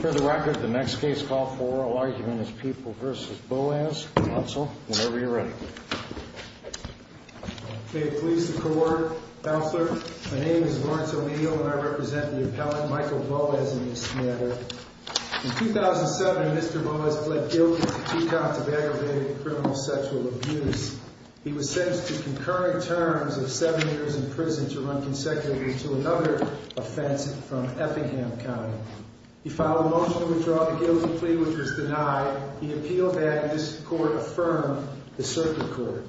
For the record, the next case call for oral argument is People v. Boaz. Counsel, whenever you're ready. May it please the court. Counselor, my name is Lawrence O'Neill and I represent the appellant Michael Boaz in this matter. In 2007, Mr. Boaz pled guilty to two counts of aggravated criminal sexual abuse. He was sentenced to concurrent terms of seven years in prison to run consecutively to another offense from Eppingham County. He filed a motion to withdraw the guilty plea which was denied. The appeal had this court affirm the circuit court.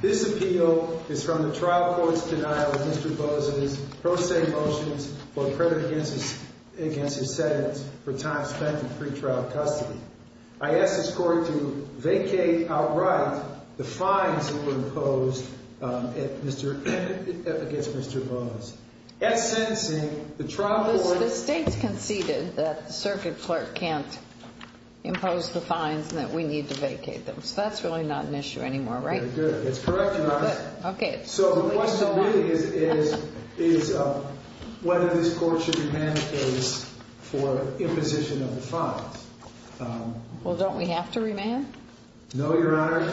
This appeal is from the trial court's denial of Mr. Boaz's pro se motions for credit against his sentence for time spent in pretrial custody. I ask this court to vacate outright the fines that were imposed against Mr. Boaz. At sentencing, the trial court The state's conceded that the circuit clerk can't impose the fines and that we need to vacate them. So that's really not an issue anymore, right? Very good. That's correct, Your Honor. So the question really is whether this court should remand the case for imposition of the fines. Well, don't we have to remand? No, Your Honor.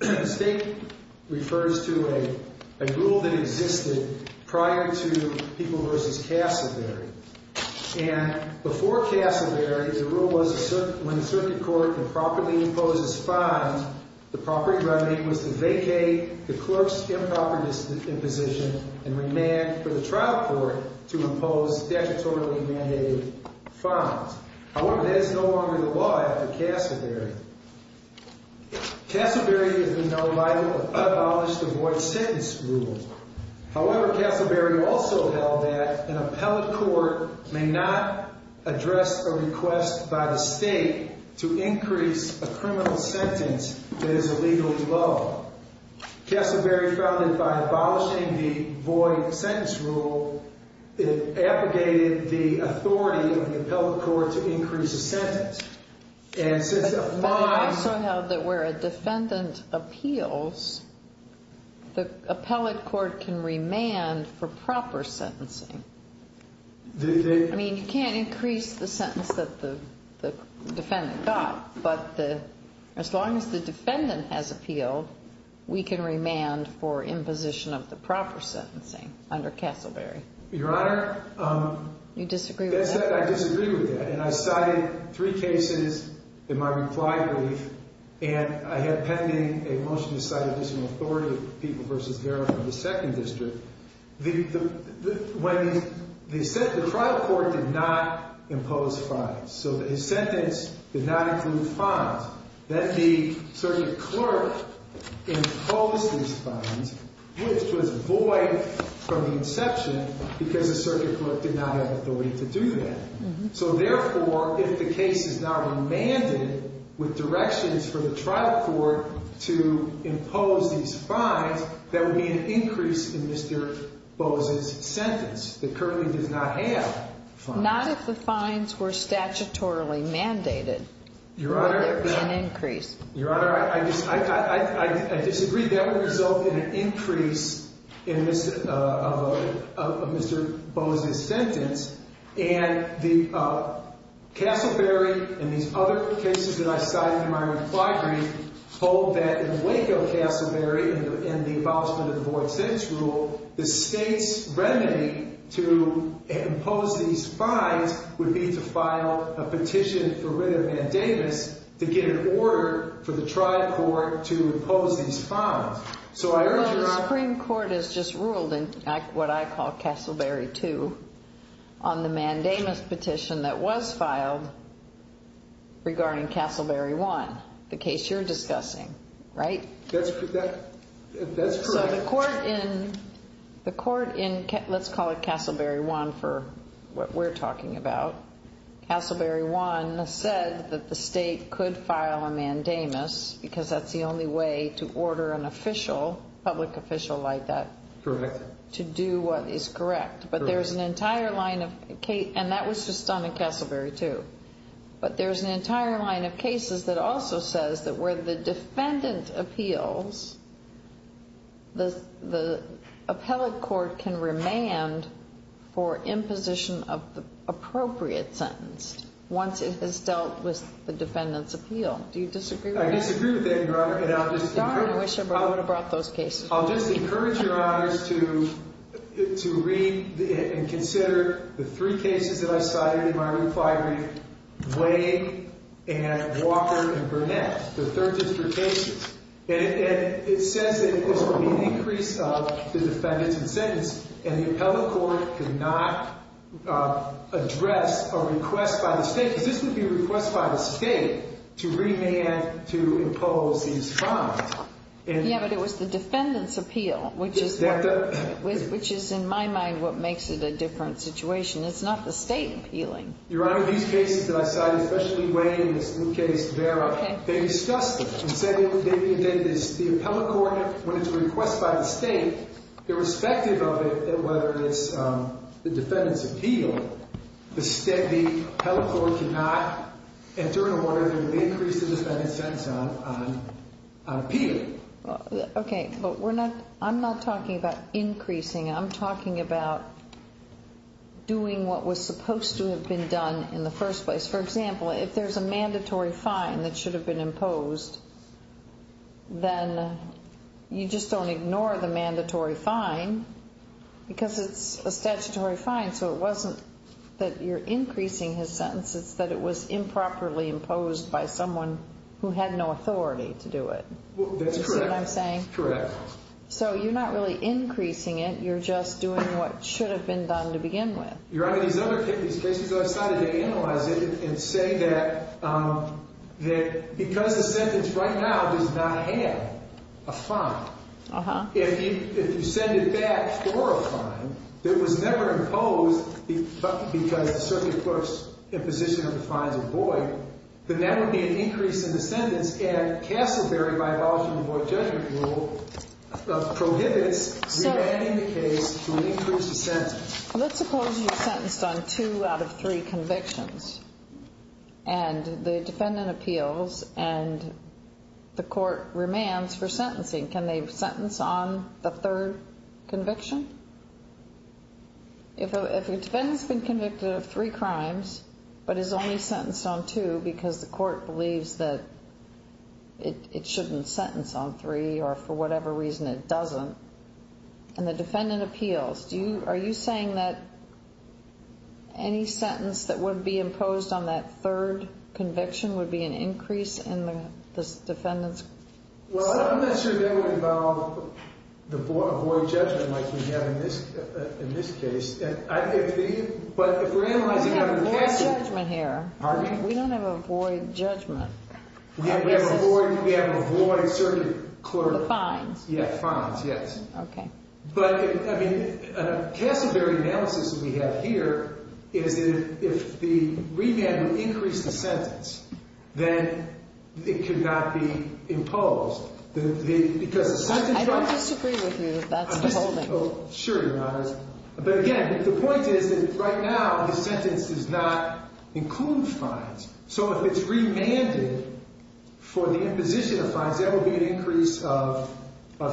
The state refers to a rule that existed prior to People v. Casselberry. And before Casselberry, the rule was when the circuit court improperly imposes fines, the proper remedy was to vacate the clerk's improper imposition and remand for the trial court to impose statutorily mandated fines. However, that is no longer the law after Casselberry. Casselberry is in no light of the abolished avoid-sentence rule. However, Casselberry also held that an appellate court may not address a request by the state to increase a criminal sentence that is illegally low. Casselberry, founded by abolishing the avoid-sentence rule, abrogated the authority of the appellate court to increase a sentence, and since a fine... But they also held that where a defendant appeals, the appellate court can remand for proper sentencing. I mean, you can't increase the sentence that the defendant got, but as long as the defendant has appealed, we can remand for imposition of the proper sentencing under Casselberry. Your Honor... You disagree with that? I disagree with that. And I cited 3 cases in my reply brief, and I had pending a motion to cite additional authority of the People v. Garrison in the 2nd District. The trial court did not impose fines, so his sentence did not include fines. So, therefore, if the case is not remanded with directions from the trial court to impose these fines, there would be an increase in Mr. Bose's sentence that currently does not have fines. Not if the fines were statutorily mandated. there would be an increase in Mr. Bose's sentence. Your Honor, I disagree. That would result in an increase in Mr. Bose's sentence. And Casselberry and these other cases that I cited in my reply brief hold that in Waco-Casselberry, in the abolishment of the Void Sentence Rule, the state's remedy to impose these fines would be to file a petition for rid of Van Davis to get an order for the trial court to impose these fines. Well, the Supreme Court has just ruled in what I call Casselberry 2 on the mandamus petition that was filed regarding Casselberry 1, the case you're discussing, right? That's correct. So the court in, let's call it Casselberry 1 for what we're talking about, Casselberry 1 said that the state could file a mandamus because that's the only way to order an official, public official like that, to do what is correct. But there's an entire line of, and that was just done in Casselberry 2, but there's an entire line of cases that also says that where the defendant appeals, the appellate court can remand for imposition of the appropriate sentence once it has dealt with the defendant's appeal. Do you disagree with that? I disagree with that, Your Honor, and I'll just encourage... Your Honor, I wish I would have brought those cases. I'll just encourage Your Honors to read and consider the three cases that I cited in my reply brief, Wade and Walker and Burnett, the third district cases. And it says that there's going to be an increase of the defendant's sentence and the appellate court cannot address a request by the state, because this would be a request by the state to remand to impose these crimes. Yeah, but it was the defendant's appeal, which is in my mind what makes it a different situation. It's not the state appealing. Your Honor, these cases that I cited, especially Wade and this new case, they discuss this and say that the appellate court, when it's a request by the state, irrespective of it, whether it's the defendant's appeal, the appellate court cannot enter into order to increase the defendant's sentence on appealing. Okay, but I'm not talking about increasing. I'm talking about doing what was supposed to have been done in the first place. For example, if there's a mandatory fine that should have been imposed, then you just don't ignore the mandatory fine because it's a statutory fine, so it wasn't that you're increasing his sentence. It's that it was improperly imposed by someone who had no authority to do it. That's correct. You see what I'm saying? Correct. So you're not really increasing it. You're just doing what should have been done to begin with. Your Honor, these other cases that I cited, they analyze it and say that because the sentence right now does not have a fine, if you send it back for a fine that was never imposed because the circuit courts' imposition of the fines are void, then that would be an increase in the sentence, and Castleberry, by abolishing the void judgment rule, prohibits remanding the case to increase the sentence. Let's suppose you're sentenced on two out of three convictions, and the defendant appeals and the court remands for sentencing. Can they sentence on the third conviction? If a defendant's been convicted of three crimes but is only sentenced on two because the court believes that it shouldn't sentence on three or for whatever reason it doesn't, and the defendant appeals, are you saying that any sentence that would be imposed on that third conviction would be an increase in the defendant's sentence? Well, I'm not sure that would involve a void judgment like we have in this case. But if we're analyzing under the statute. We don't have a void judgment here. Pardon me? We don't have a void judgment. We have a void circuit court. The fines. Yeah, fines, yes. Okay. But, I mean, Castleberry analysis that we have here is that if the remand would increase the sentence, then it could not be imposed. I don't disagree with you. That's withholding. Sure you're not. But, again, the point is that right now the sentence does not include fines. So if it's remanded for the imposition of fines, that would be an increase of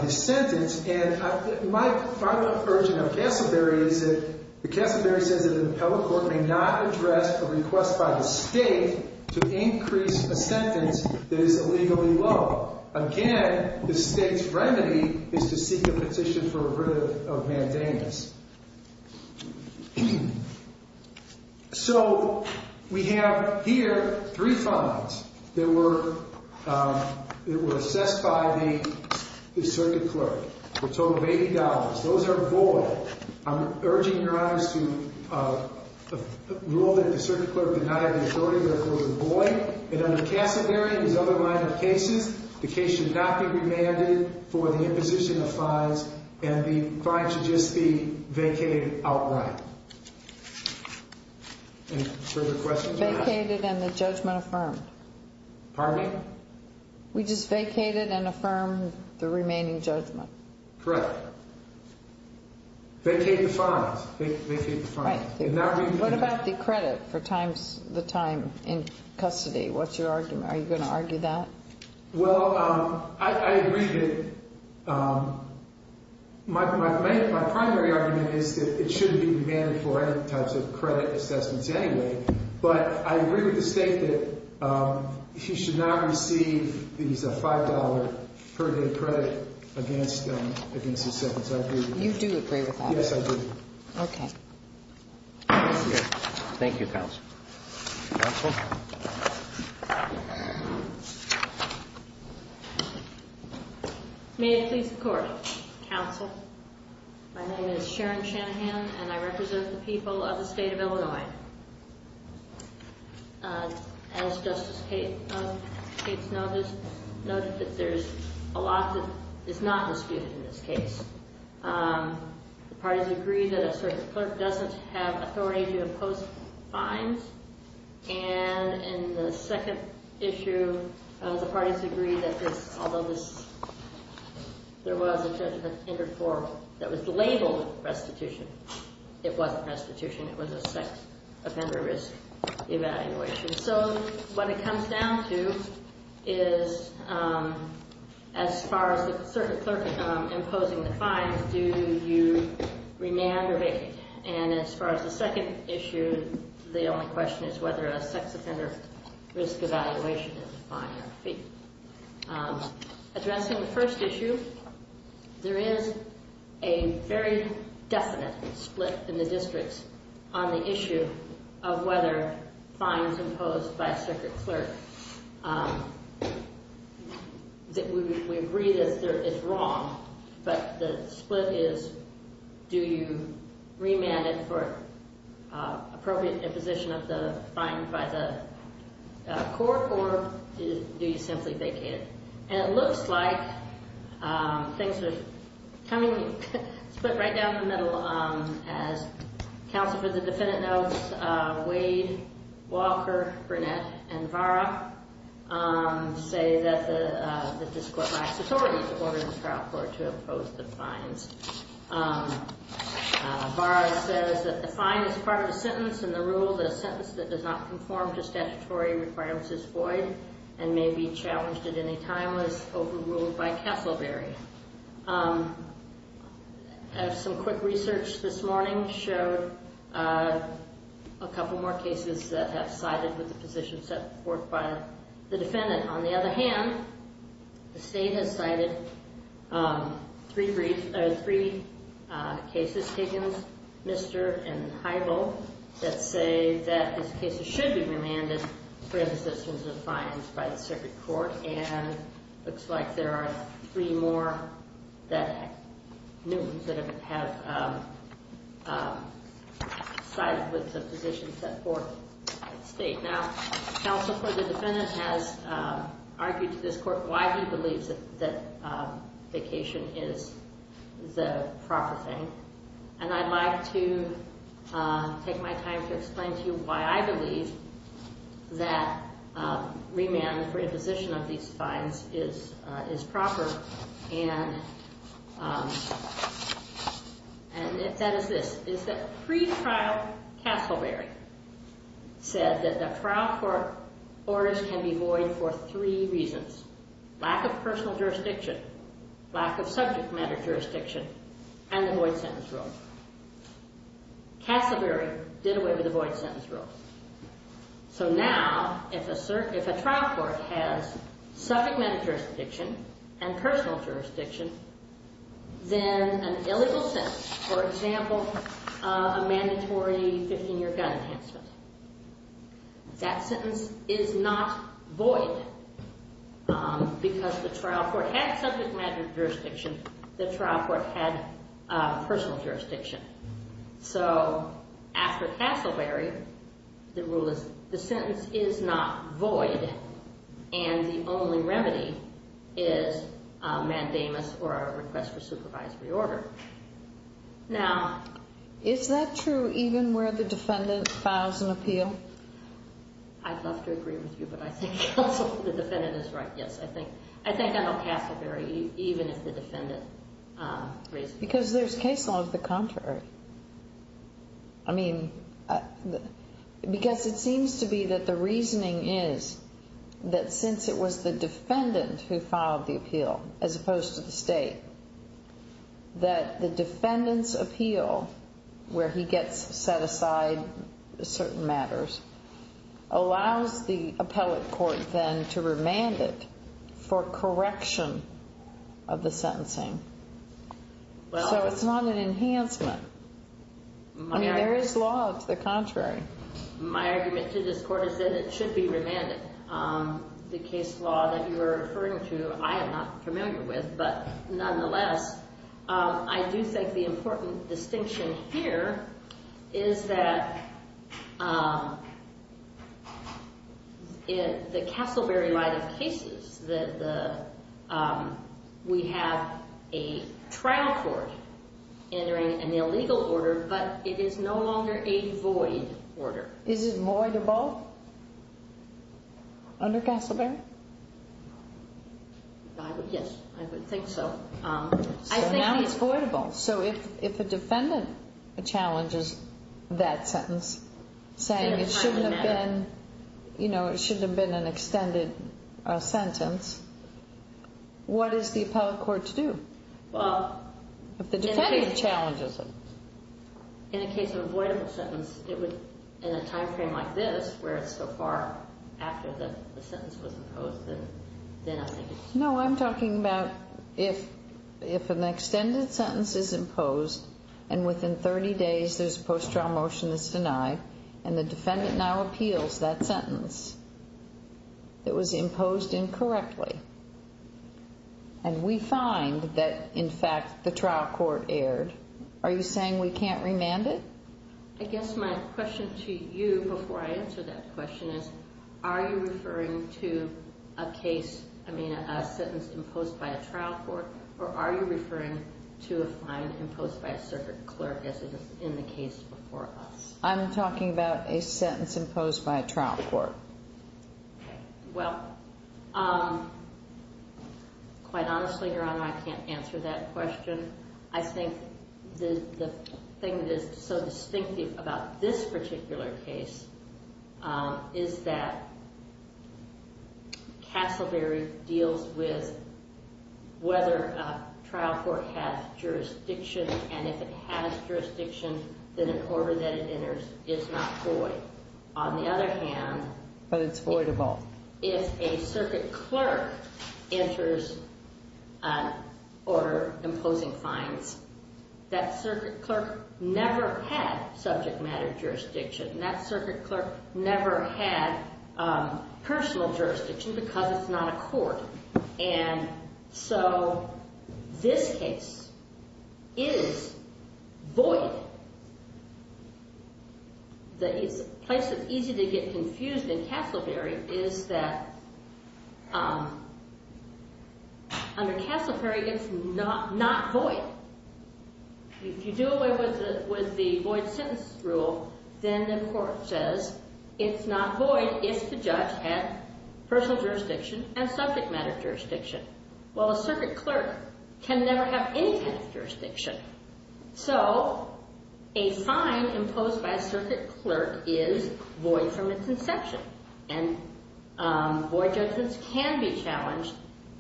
his sentence. And my final version of Castleberry is that Castleberry says that an appellate court may not address a request by the state to increase a sentence that is illegally low. Again, the state's remedy is to seek a petition for a writ of mandamus. So we have here three fines that were assessed by the circuit clerk for a total of $80. Those are void. I'm urging your honors to rule that the circuit clerk did not have authority, that those are void. And under Castleberry and his other minor cases, the case should not be remanded for the imposition of fines, and the fines should just be vacated outright. Any further questions? Vacated and the judgment affirmed. Pardon me? We just vacated and affirmed the remaining judgment. Correct. Vacate the fines. Vacate the fines. Right. What about the credit for the time in custody? What's your argument? Are you going to argue that? Well, I agree that my primary argument is that it shouldn't be remanded for any types of credit assessments anyway, but I agree with the state that he should not receive these $5 per day credit against his sentence. I agree with that. You do agree with that? Yes, I do. Okay. Thank you, counsel. Counsel? May it please the Court. Counsel, my name is Sharon Shanahan, and I represent the people of the state of Illinois. As Justice Cates noted, there's a lot that is not disputed in this case. The parties agree that a circuit clerk doesn't have authority to impose fines, and in the second issue, the parties agree that this, although there was a judgment interfered for that was labeled restitution, it wasn't restitution. It was a sex offender risk evaluation. So what it comes down to is, as far as the circuit clerk imposing the fines, do you remand or vacate? And as far as the second issue, the only question is whether a sex offender risk evaluation is a fine or a fee. Addressing the first issue, there is a very definite split in the districts on the issue of whether fines imposed by a circuit clerk. We agree that it's wrong, but the split is, do you remand it for appropriate imposition of the fine by the court, or do you simply vacate it? And it looks like things are coming, split right down the middle. As counsel for the defendant notes, Wade, Walker, Burnett, and Vara say that the district lacks authority to order the trial court to impose the fines. Vara says that the fine is part of the sentence, and the rule that a sentence that does not conform to statutory requirements is void and may be challenged at any time was overruled by Casselberry. Some quick research this morning showed a couple more cases that have sided with the position set forth by the defendant. On the other hand, the state has cited three briefs, three cases taken, Mister and Hybel, that say that these cases should be remanded for imposition of fines by the circuit court, and it looks like there are three more that have sided with the position set forth by the state. Now, counsel for the defendant has argued to this court why he believes that vacation is the proper thing, and I'd like to take my time to explain to you why I believe that remand for imposition of these fines is proper, and that is this, is that pretrial Casselberry said that the trial court orders can be void for three reasons, lack of personal jurisdiction, lack of subject matter jurisdiction, and the void sentence rule. Casselberry did away with the void sentence rule. So now, if a trial court has subject matter jurisdiction and personal jurisdiction, then an illegal sentence, for example, a mandatory 15-year gun enhancement, that sentence is not void because the trial court had subject matter jurisdiction, the trial court had personal jurisdiction. So after Casselberry, the rule is the sentence is not void, and the only remedy is mandamus or a request for supervisory order. Now... Is that true even where the defendant files an appeal? I'd love to agree with you, but I think counsel for the defendant is right. Yes, I think I know Casselberry even if the defendant raised it. Because there's case law of the contrary. I mean, because it seems to be that the reasoning is that since it was the defendant who filed the appeal as opposed to the state, that the defendant's appeal where he gets set aside certain matters allows the appellate court then to remand it for correction of the sentencing. So it's not an enhancement. I mean, there is law of the contrary. My argument to this court is that it should be remanded. The case law that you are referring to, I am not familiar with, but nonetheless, I do think the important distinction here is that in the Casselberry line of cases, we have a trial court entering an illegal order, but it is no longer a void order. Is it void or both under Casselberry? Yes, I would think so. So now it's voidable. So if a defendant challenges that sentence, saying it shouldn't have been an extended sentence, what is the appellate court to do if the defendant challenges it? In the case of a voidable sentence, in a timeframe like this where it's so far after the sentence was imposed, then I think it's voidable. No, I'm talking about if an extended sentence is imposed and within 30 days there's a post-trial motion that's denied and the defendant now appeals that sentence that was imposed incorrectly and we find that, in fact, the trial court erred, are you saying we can't remand it? I guess my question to you before I answer that question is are you referring to a sentence imposed by a trial court or are you referring to a fine imposed by a circuit clerk as is in the case before us? I'm talking about a sentence imposed by a trial court. Well, quite honestly, Your Honor, I can't answer that question. I think the thing that is so distinctive about this particular case is that Castleberry deals with whether a trial court has jurisdiction and if it has jurisdiction, then an order that it enters is not void. On the other hand, if a circuit clerk enters an order imposing fines, that circuit clerk never had subject matter jurisdiction and that circuit clerk never had personal jurisdiction because it's not a court. And so this case is void. The place that's easy to get confused in Castleberry is that under Castleberry, it's not void. If you do away with the void sentence rule, then the court says it's not void if the judge had personal jurisdiction and subject matter jurisdiction. Well, a circuit clerk can never have any kind of jurisdiction. So a fine imposed by a circuit clerk is void from its inception and void judgments can be challenged.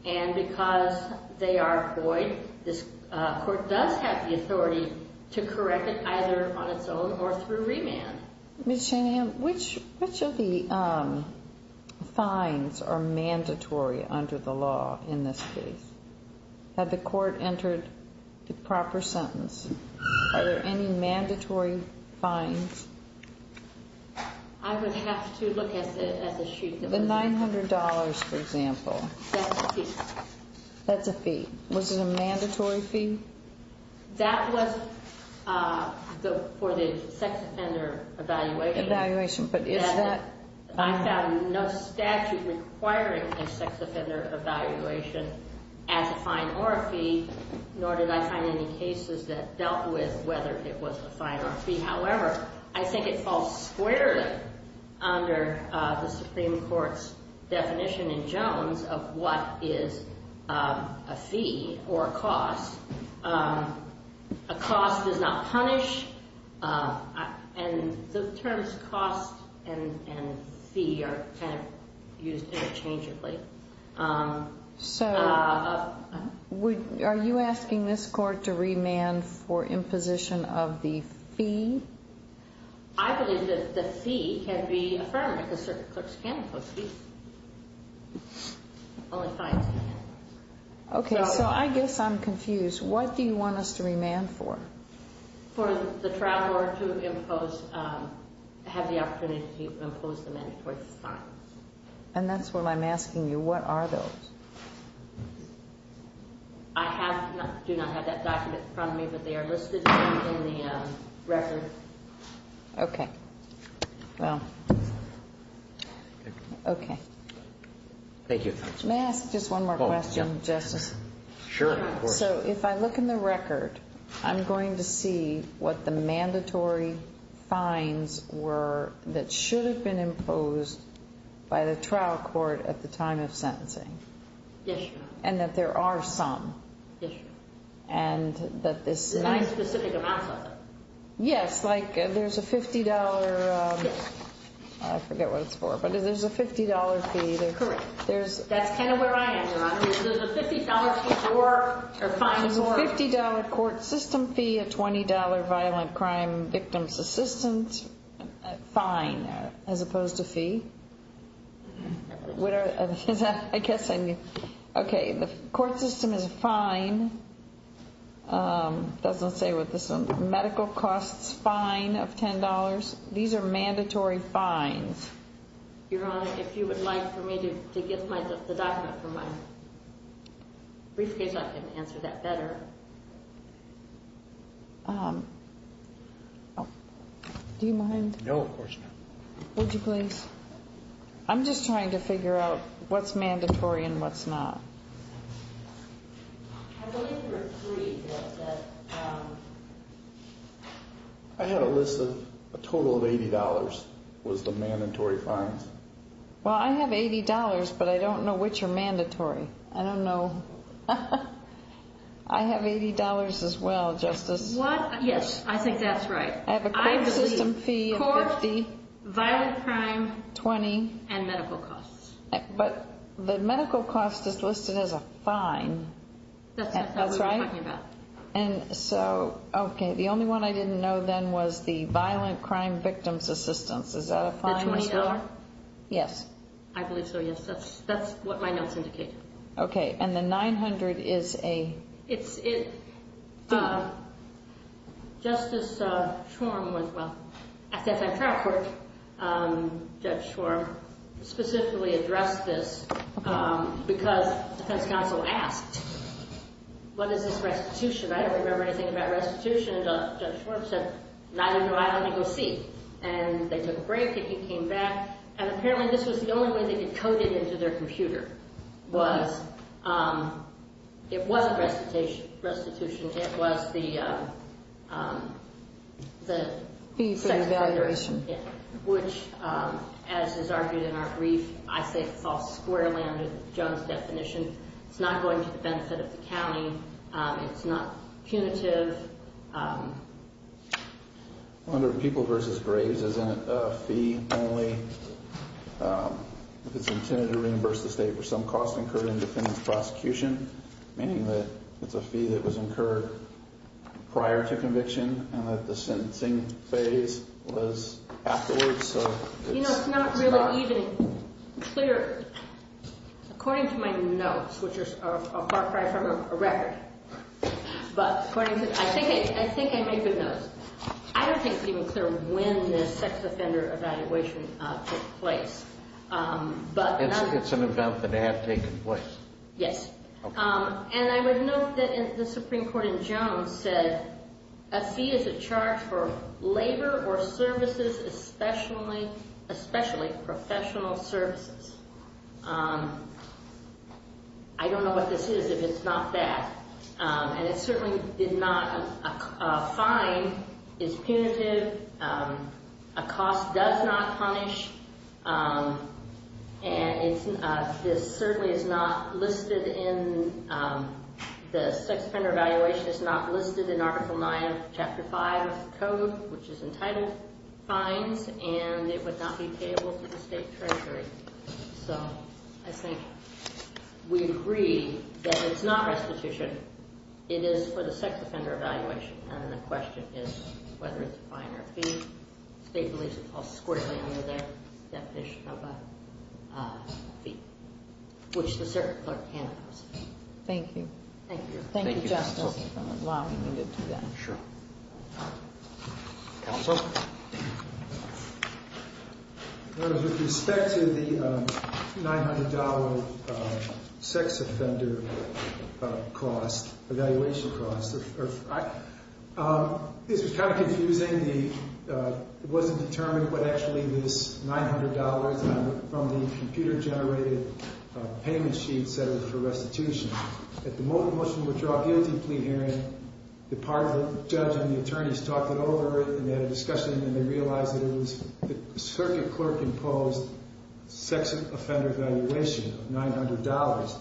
And because they are void, this court does have the authority to correct it either on its own or through remand. Ms. Shanahan, which of the fines are mandatory under the law in this case? Had the court entered the proper sentence? Are there any mandatory fines? I would have to look at the sheet. The $900, for example. That's a fee. That's a fee. Was it a mandatory fee? That was for the sex offender evaluation. Evaluation, but is that? I found no statute requiring a sex offender evaluation as a fine or a fee, however, I think it falls squarely under the Supreme Court's definition in Jones of what is a fee or a cost. A cost does not punish. And the terms cost and fee are kind of used interchangeably. So are you asking this court to remand for imposition of the fee? I believe that the fee can be affirmed because circuit clerks can impose fees. Only fines can. Okay, so I guess I'm confused. What do you want us to remand for? For the trial lawyer to have the opportunity to impose the mandatory fines. And that's what I'm asking you. What are those? I do not have that document in front of me, but they are listed in the record. Okay. Well, okay. Thank you. May I ask just one more question, Justice? Sure, of course. So if I look in the record, I'm going to see what the mandatory fines were that should have been imposed by the trial court at the time of sentencing. Yes, Your Honor. And that there are some. Yes, Your Honor. And that this is my specific amount of it. Yes, like there's a $50. Yes. I forget what it's for, but there's a $50 fee. Correct. That's kind of where I am, Your Honor. There's a $50 fee for or fine for. $50 court system fee, a $20 violent crime victim's assistant fine as opposed to fee. I guess I need. Okay. The court system is a fine. It doesn't say what this is. Medical costs fine of $10. These are mandatory fines. Your Honor, if you would like for me to get the document from my briefcase, maybe I can answer that better. Do you mind? No, of course not. Would you please? I'm just trying to figure out what's mandatory and what's not. I had a list of a total of $80 was the mandatory fines. Well, I have $80, but I don't know which are mandatory. I don't know. I have $80 as well, Justice. What? Yes, I think that's right. I have a court system fee of $50. I believe court, violent crime. $20. And medical costs. But the medical cost is listed as a fine. That's what I was talking about. That's right? Okay. The only one I didn't know then was the violent crime victim's assistant. Is that a fine as well? The $20? Yes. I believe so, yes. That's what my notes indicate. Okay. And the $900 is a? Justice Schwarm was, well, at the F.M. Trial Court, Judge Schwarm specifically addressed this because the defense counsel asked, what is this restitution? I don't remember anything about restitution. And Judge Schwarm said, neither do I. Let me go see. And they took a break, and he came back. And apparently this was the only way they could code it into their computer, was it wasn't restitution. It was the? Fee for the valuation. Which, as is argued in our brief, I say it's all square landed, Jones' definition. It's not going to the benefit of the county. It's not punitive. Under People v. Graves, isn't it a fee only if it's intended to reimburse the state for some cost incurred in defendant's prosecution, meaning that it's a fee that was incurred prior to conviction and that the sentencing phase was afterwards? You know, it's not really even clear, according to my notes, which are far cry from a record. But I think I made good notes. I don't think it's even clear when the sex offender evaluation took place. It's an event that had taken place. Yes. And I would note that the Supreme Court in Jones said, a fee is a charge for labor or services, especially professional services. I don't know what this is, if it's not that. And it certainly did not. A fine is punitive. A cost does not punish. And this certainly is not listed in the sex offender evaluation. It's not listed in Article 9 of Chapter 5 of the code, which is entitled fines, and it would not be payable to the state treasury. So I think we agree that it's not restitution. It is for the sex offender evaluation, and the question is whether it's a fine or a fee. The state believes it's all squirted under their definition of a fee, which the circuit clerk can't answer. Thank you. Thank you. Thank you, Justice. While we can get to that. Sure. Counsel? With respect to the $900 sex offender cost, evaluation cost, this is kind of confusing. It wasn't determined what actually this $900 from the computer-generated payment sheet said was for restitution. At the moment, the motion would draw a guilty plea hearing. The part of the judge and the attorneys talked it over, and they had a discussion, and they realized that it was the circuit clerk imposed sex offender evaluation of $900.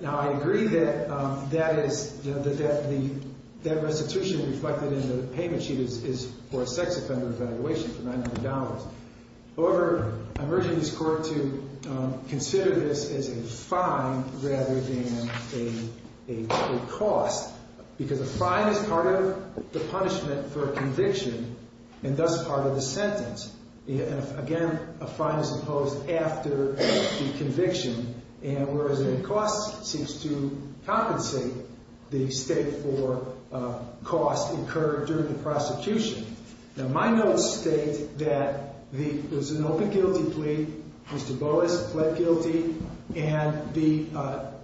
Now, I agree that that restitution reflected in the payment sheet is for a sex offender evaluation for $900. However, I'm urging this Court to consider this as a fine rather than a cost, because a fine is part of the punishment for a conviction, and thus part of the sentence. Again, a fine is imposed after the conviction, and whereas a cost seems to compensate, the state for cost occurred during the prosecution. Now, my notes state that there was an open guilty plea. Mr. Boas pled guilty, and the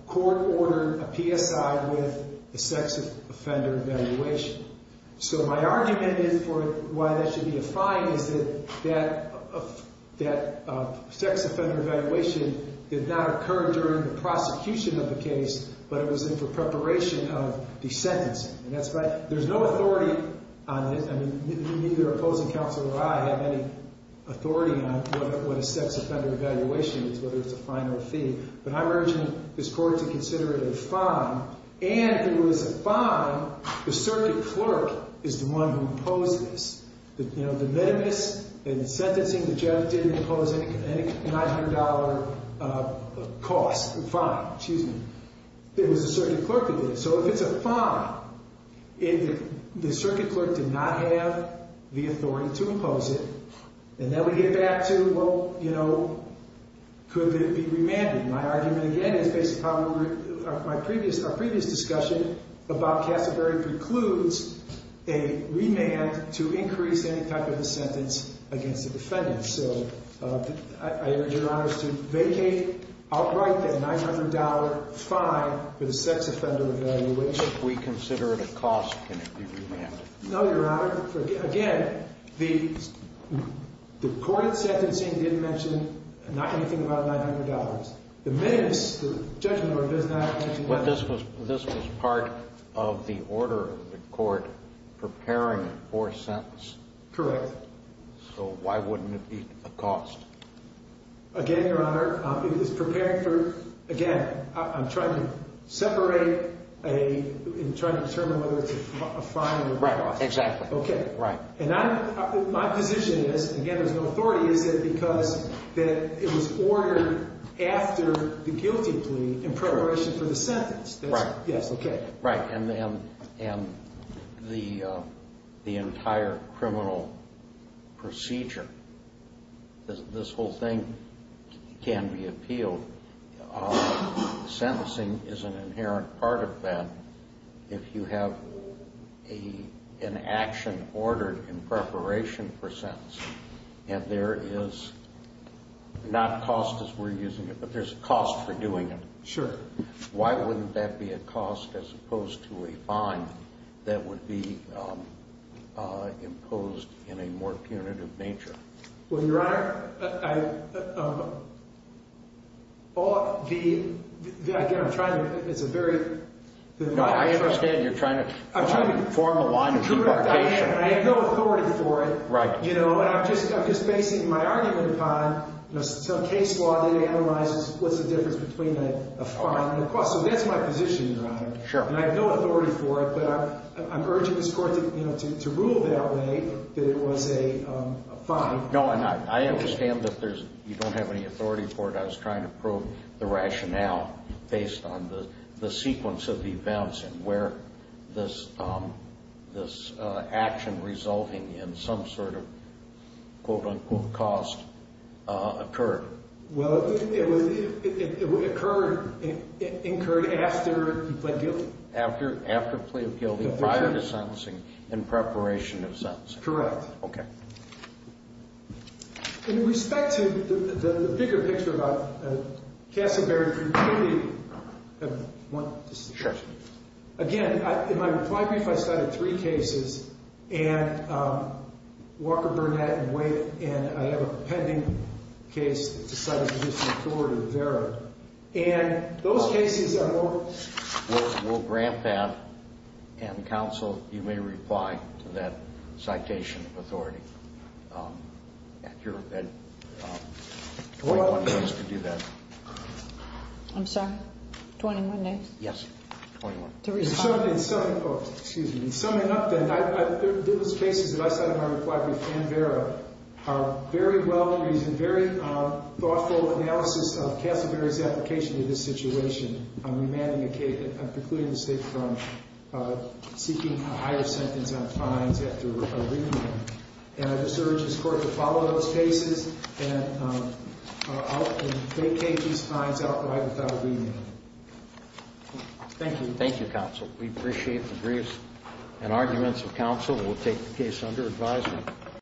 Court ordered a PSI with the sex offender evaluation. So my argument for why that should be a fine is that that sex offender evaluation did not occur during the prosecution of the case, but it was for preparation of the sentencing. There's no authority on it. Neither opposing counsel or I have any authority on what a sex offender evaluation is, whether it's a fine or a fee. But I'm urging this Court to consider it a fine, and if it was a fine, the circuit clerk is the one who imposed this. The minimus in sentencing that Jeff did impose any $900 cost, fine, excuse me, it was the circuit clerk who did it. So if it's a fine, the circuit clerk did not have the authority to impose it, and then we get back to, well, you know, could it be remanded? My argument again is based upon our previous discussion about Cassavery precludes a remand to increase any type of a sentence against a defendant. So I urge Your Honor to vacate outright that $900 fine for the sex offender evaluation. If we consider it a cost, can it be remanded? No, Your Honor. Again, the court sentencing didn't mention not anything about $900. The minimus, the judgment order does not mention that. But this was part of the order of the court preparing for a sentence? Correct. So why wouldn't it be a cost? Again, Your Honor, it is prepared for, again, I'm trying to separate a, I'm trying to determine whether it's a fine or a remand. Exactly. Okay. Right. And my position is, again, there's no authority, is it because it was ordered after the guilty plea in preparation for the sentence? Right. Yes, okay. Right. And the entire criminal procedure, this whole thing can be appealed. Sentencing is an inherent part of that if you have an action ordered in preparation for sentence and there is not cost as we're using it, but there's a cost for doing it. Sure. Why wouldn't that be a cost as opposed to a fine that would be imposed in a more punitive nature? Well, Your Honor, the, again, I'm trying to, it's a very. I understand you're trying to form a line of impartation. I am. I have no authority for it. Right. And I'm just basing my argument upon some case law that analyzes what's the difference between a fine and a cost. So that's my position, Your Honor. Sure. And I have no authority for it, but I'm urging this court to rule that way, that it was a fine. No, and I understand that you don't have any authority for it. I was trying to prove the rationale based on the sequence of events and where this action resulting in some sort of, quote, unquote, cost occurred. Well, it occurred after plea of guilty. After plea of guilty, prior to sentencing, in preparation of sentencing. That's correct. Okay. In respect to the bigger picture about Casselberry community, again, in my reply brief, I cited three cases, and Walker, Burnett, and Wade, and I have a pending case that decided to issue a court order there. And those cases I won't. We'll grant that, and counsel, you may reply to that citation of authority. You're at 21 days to do that. I'm sorry? 21 days? Yes. 21. To respond. In summing up, then, there was cases that I cited in my reply brief, and Vera are very well reasoned, very thoughtful analysis of Casselberry's application to this situation on remanding a case, precluding the State from seeking a higher sentence on fines after a remand. And I just urge this Court to follow those cases and vacate these fines outright without a remand. Thank you. Thank you, counsel. We appreciate the briefs and arguments of counsel. We'll take the case under advisement.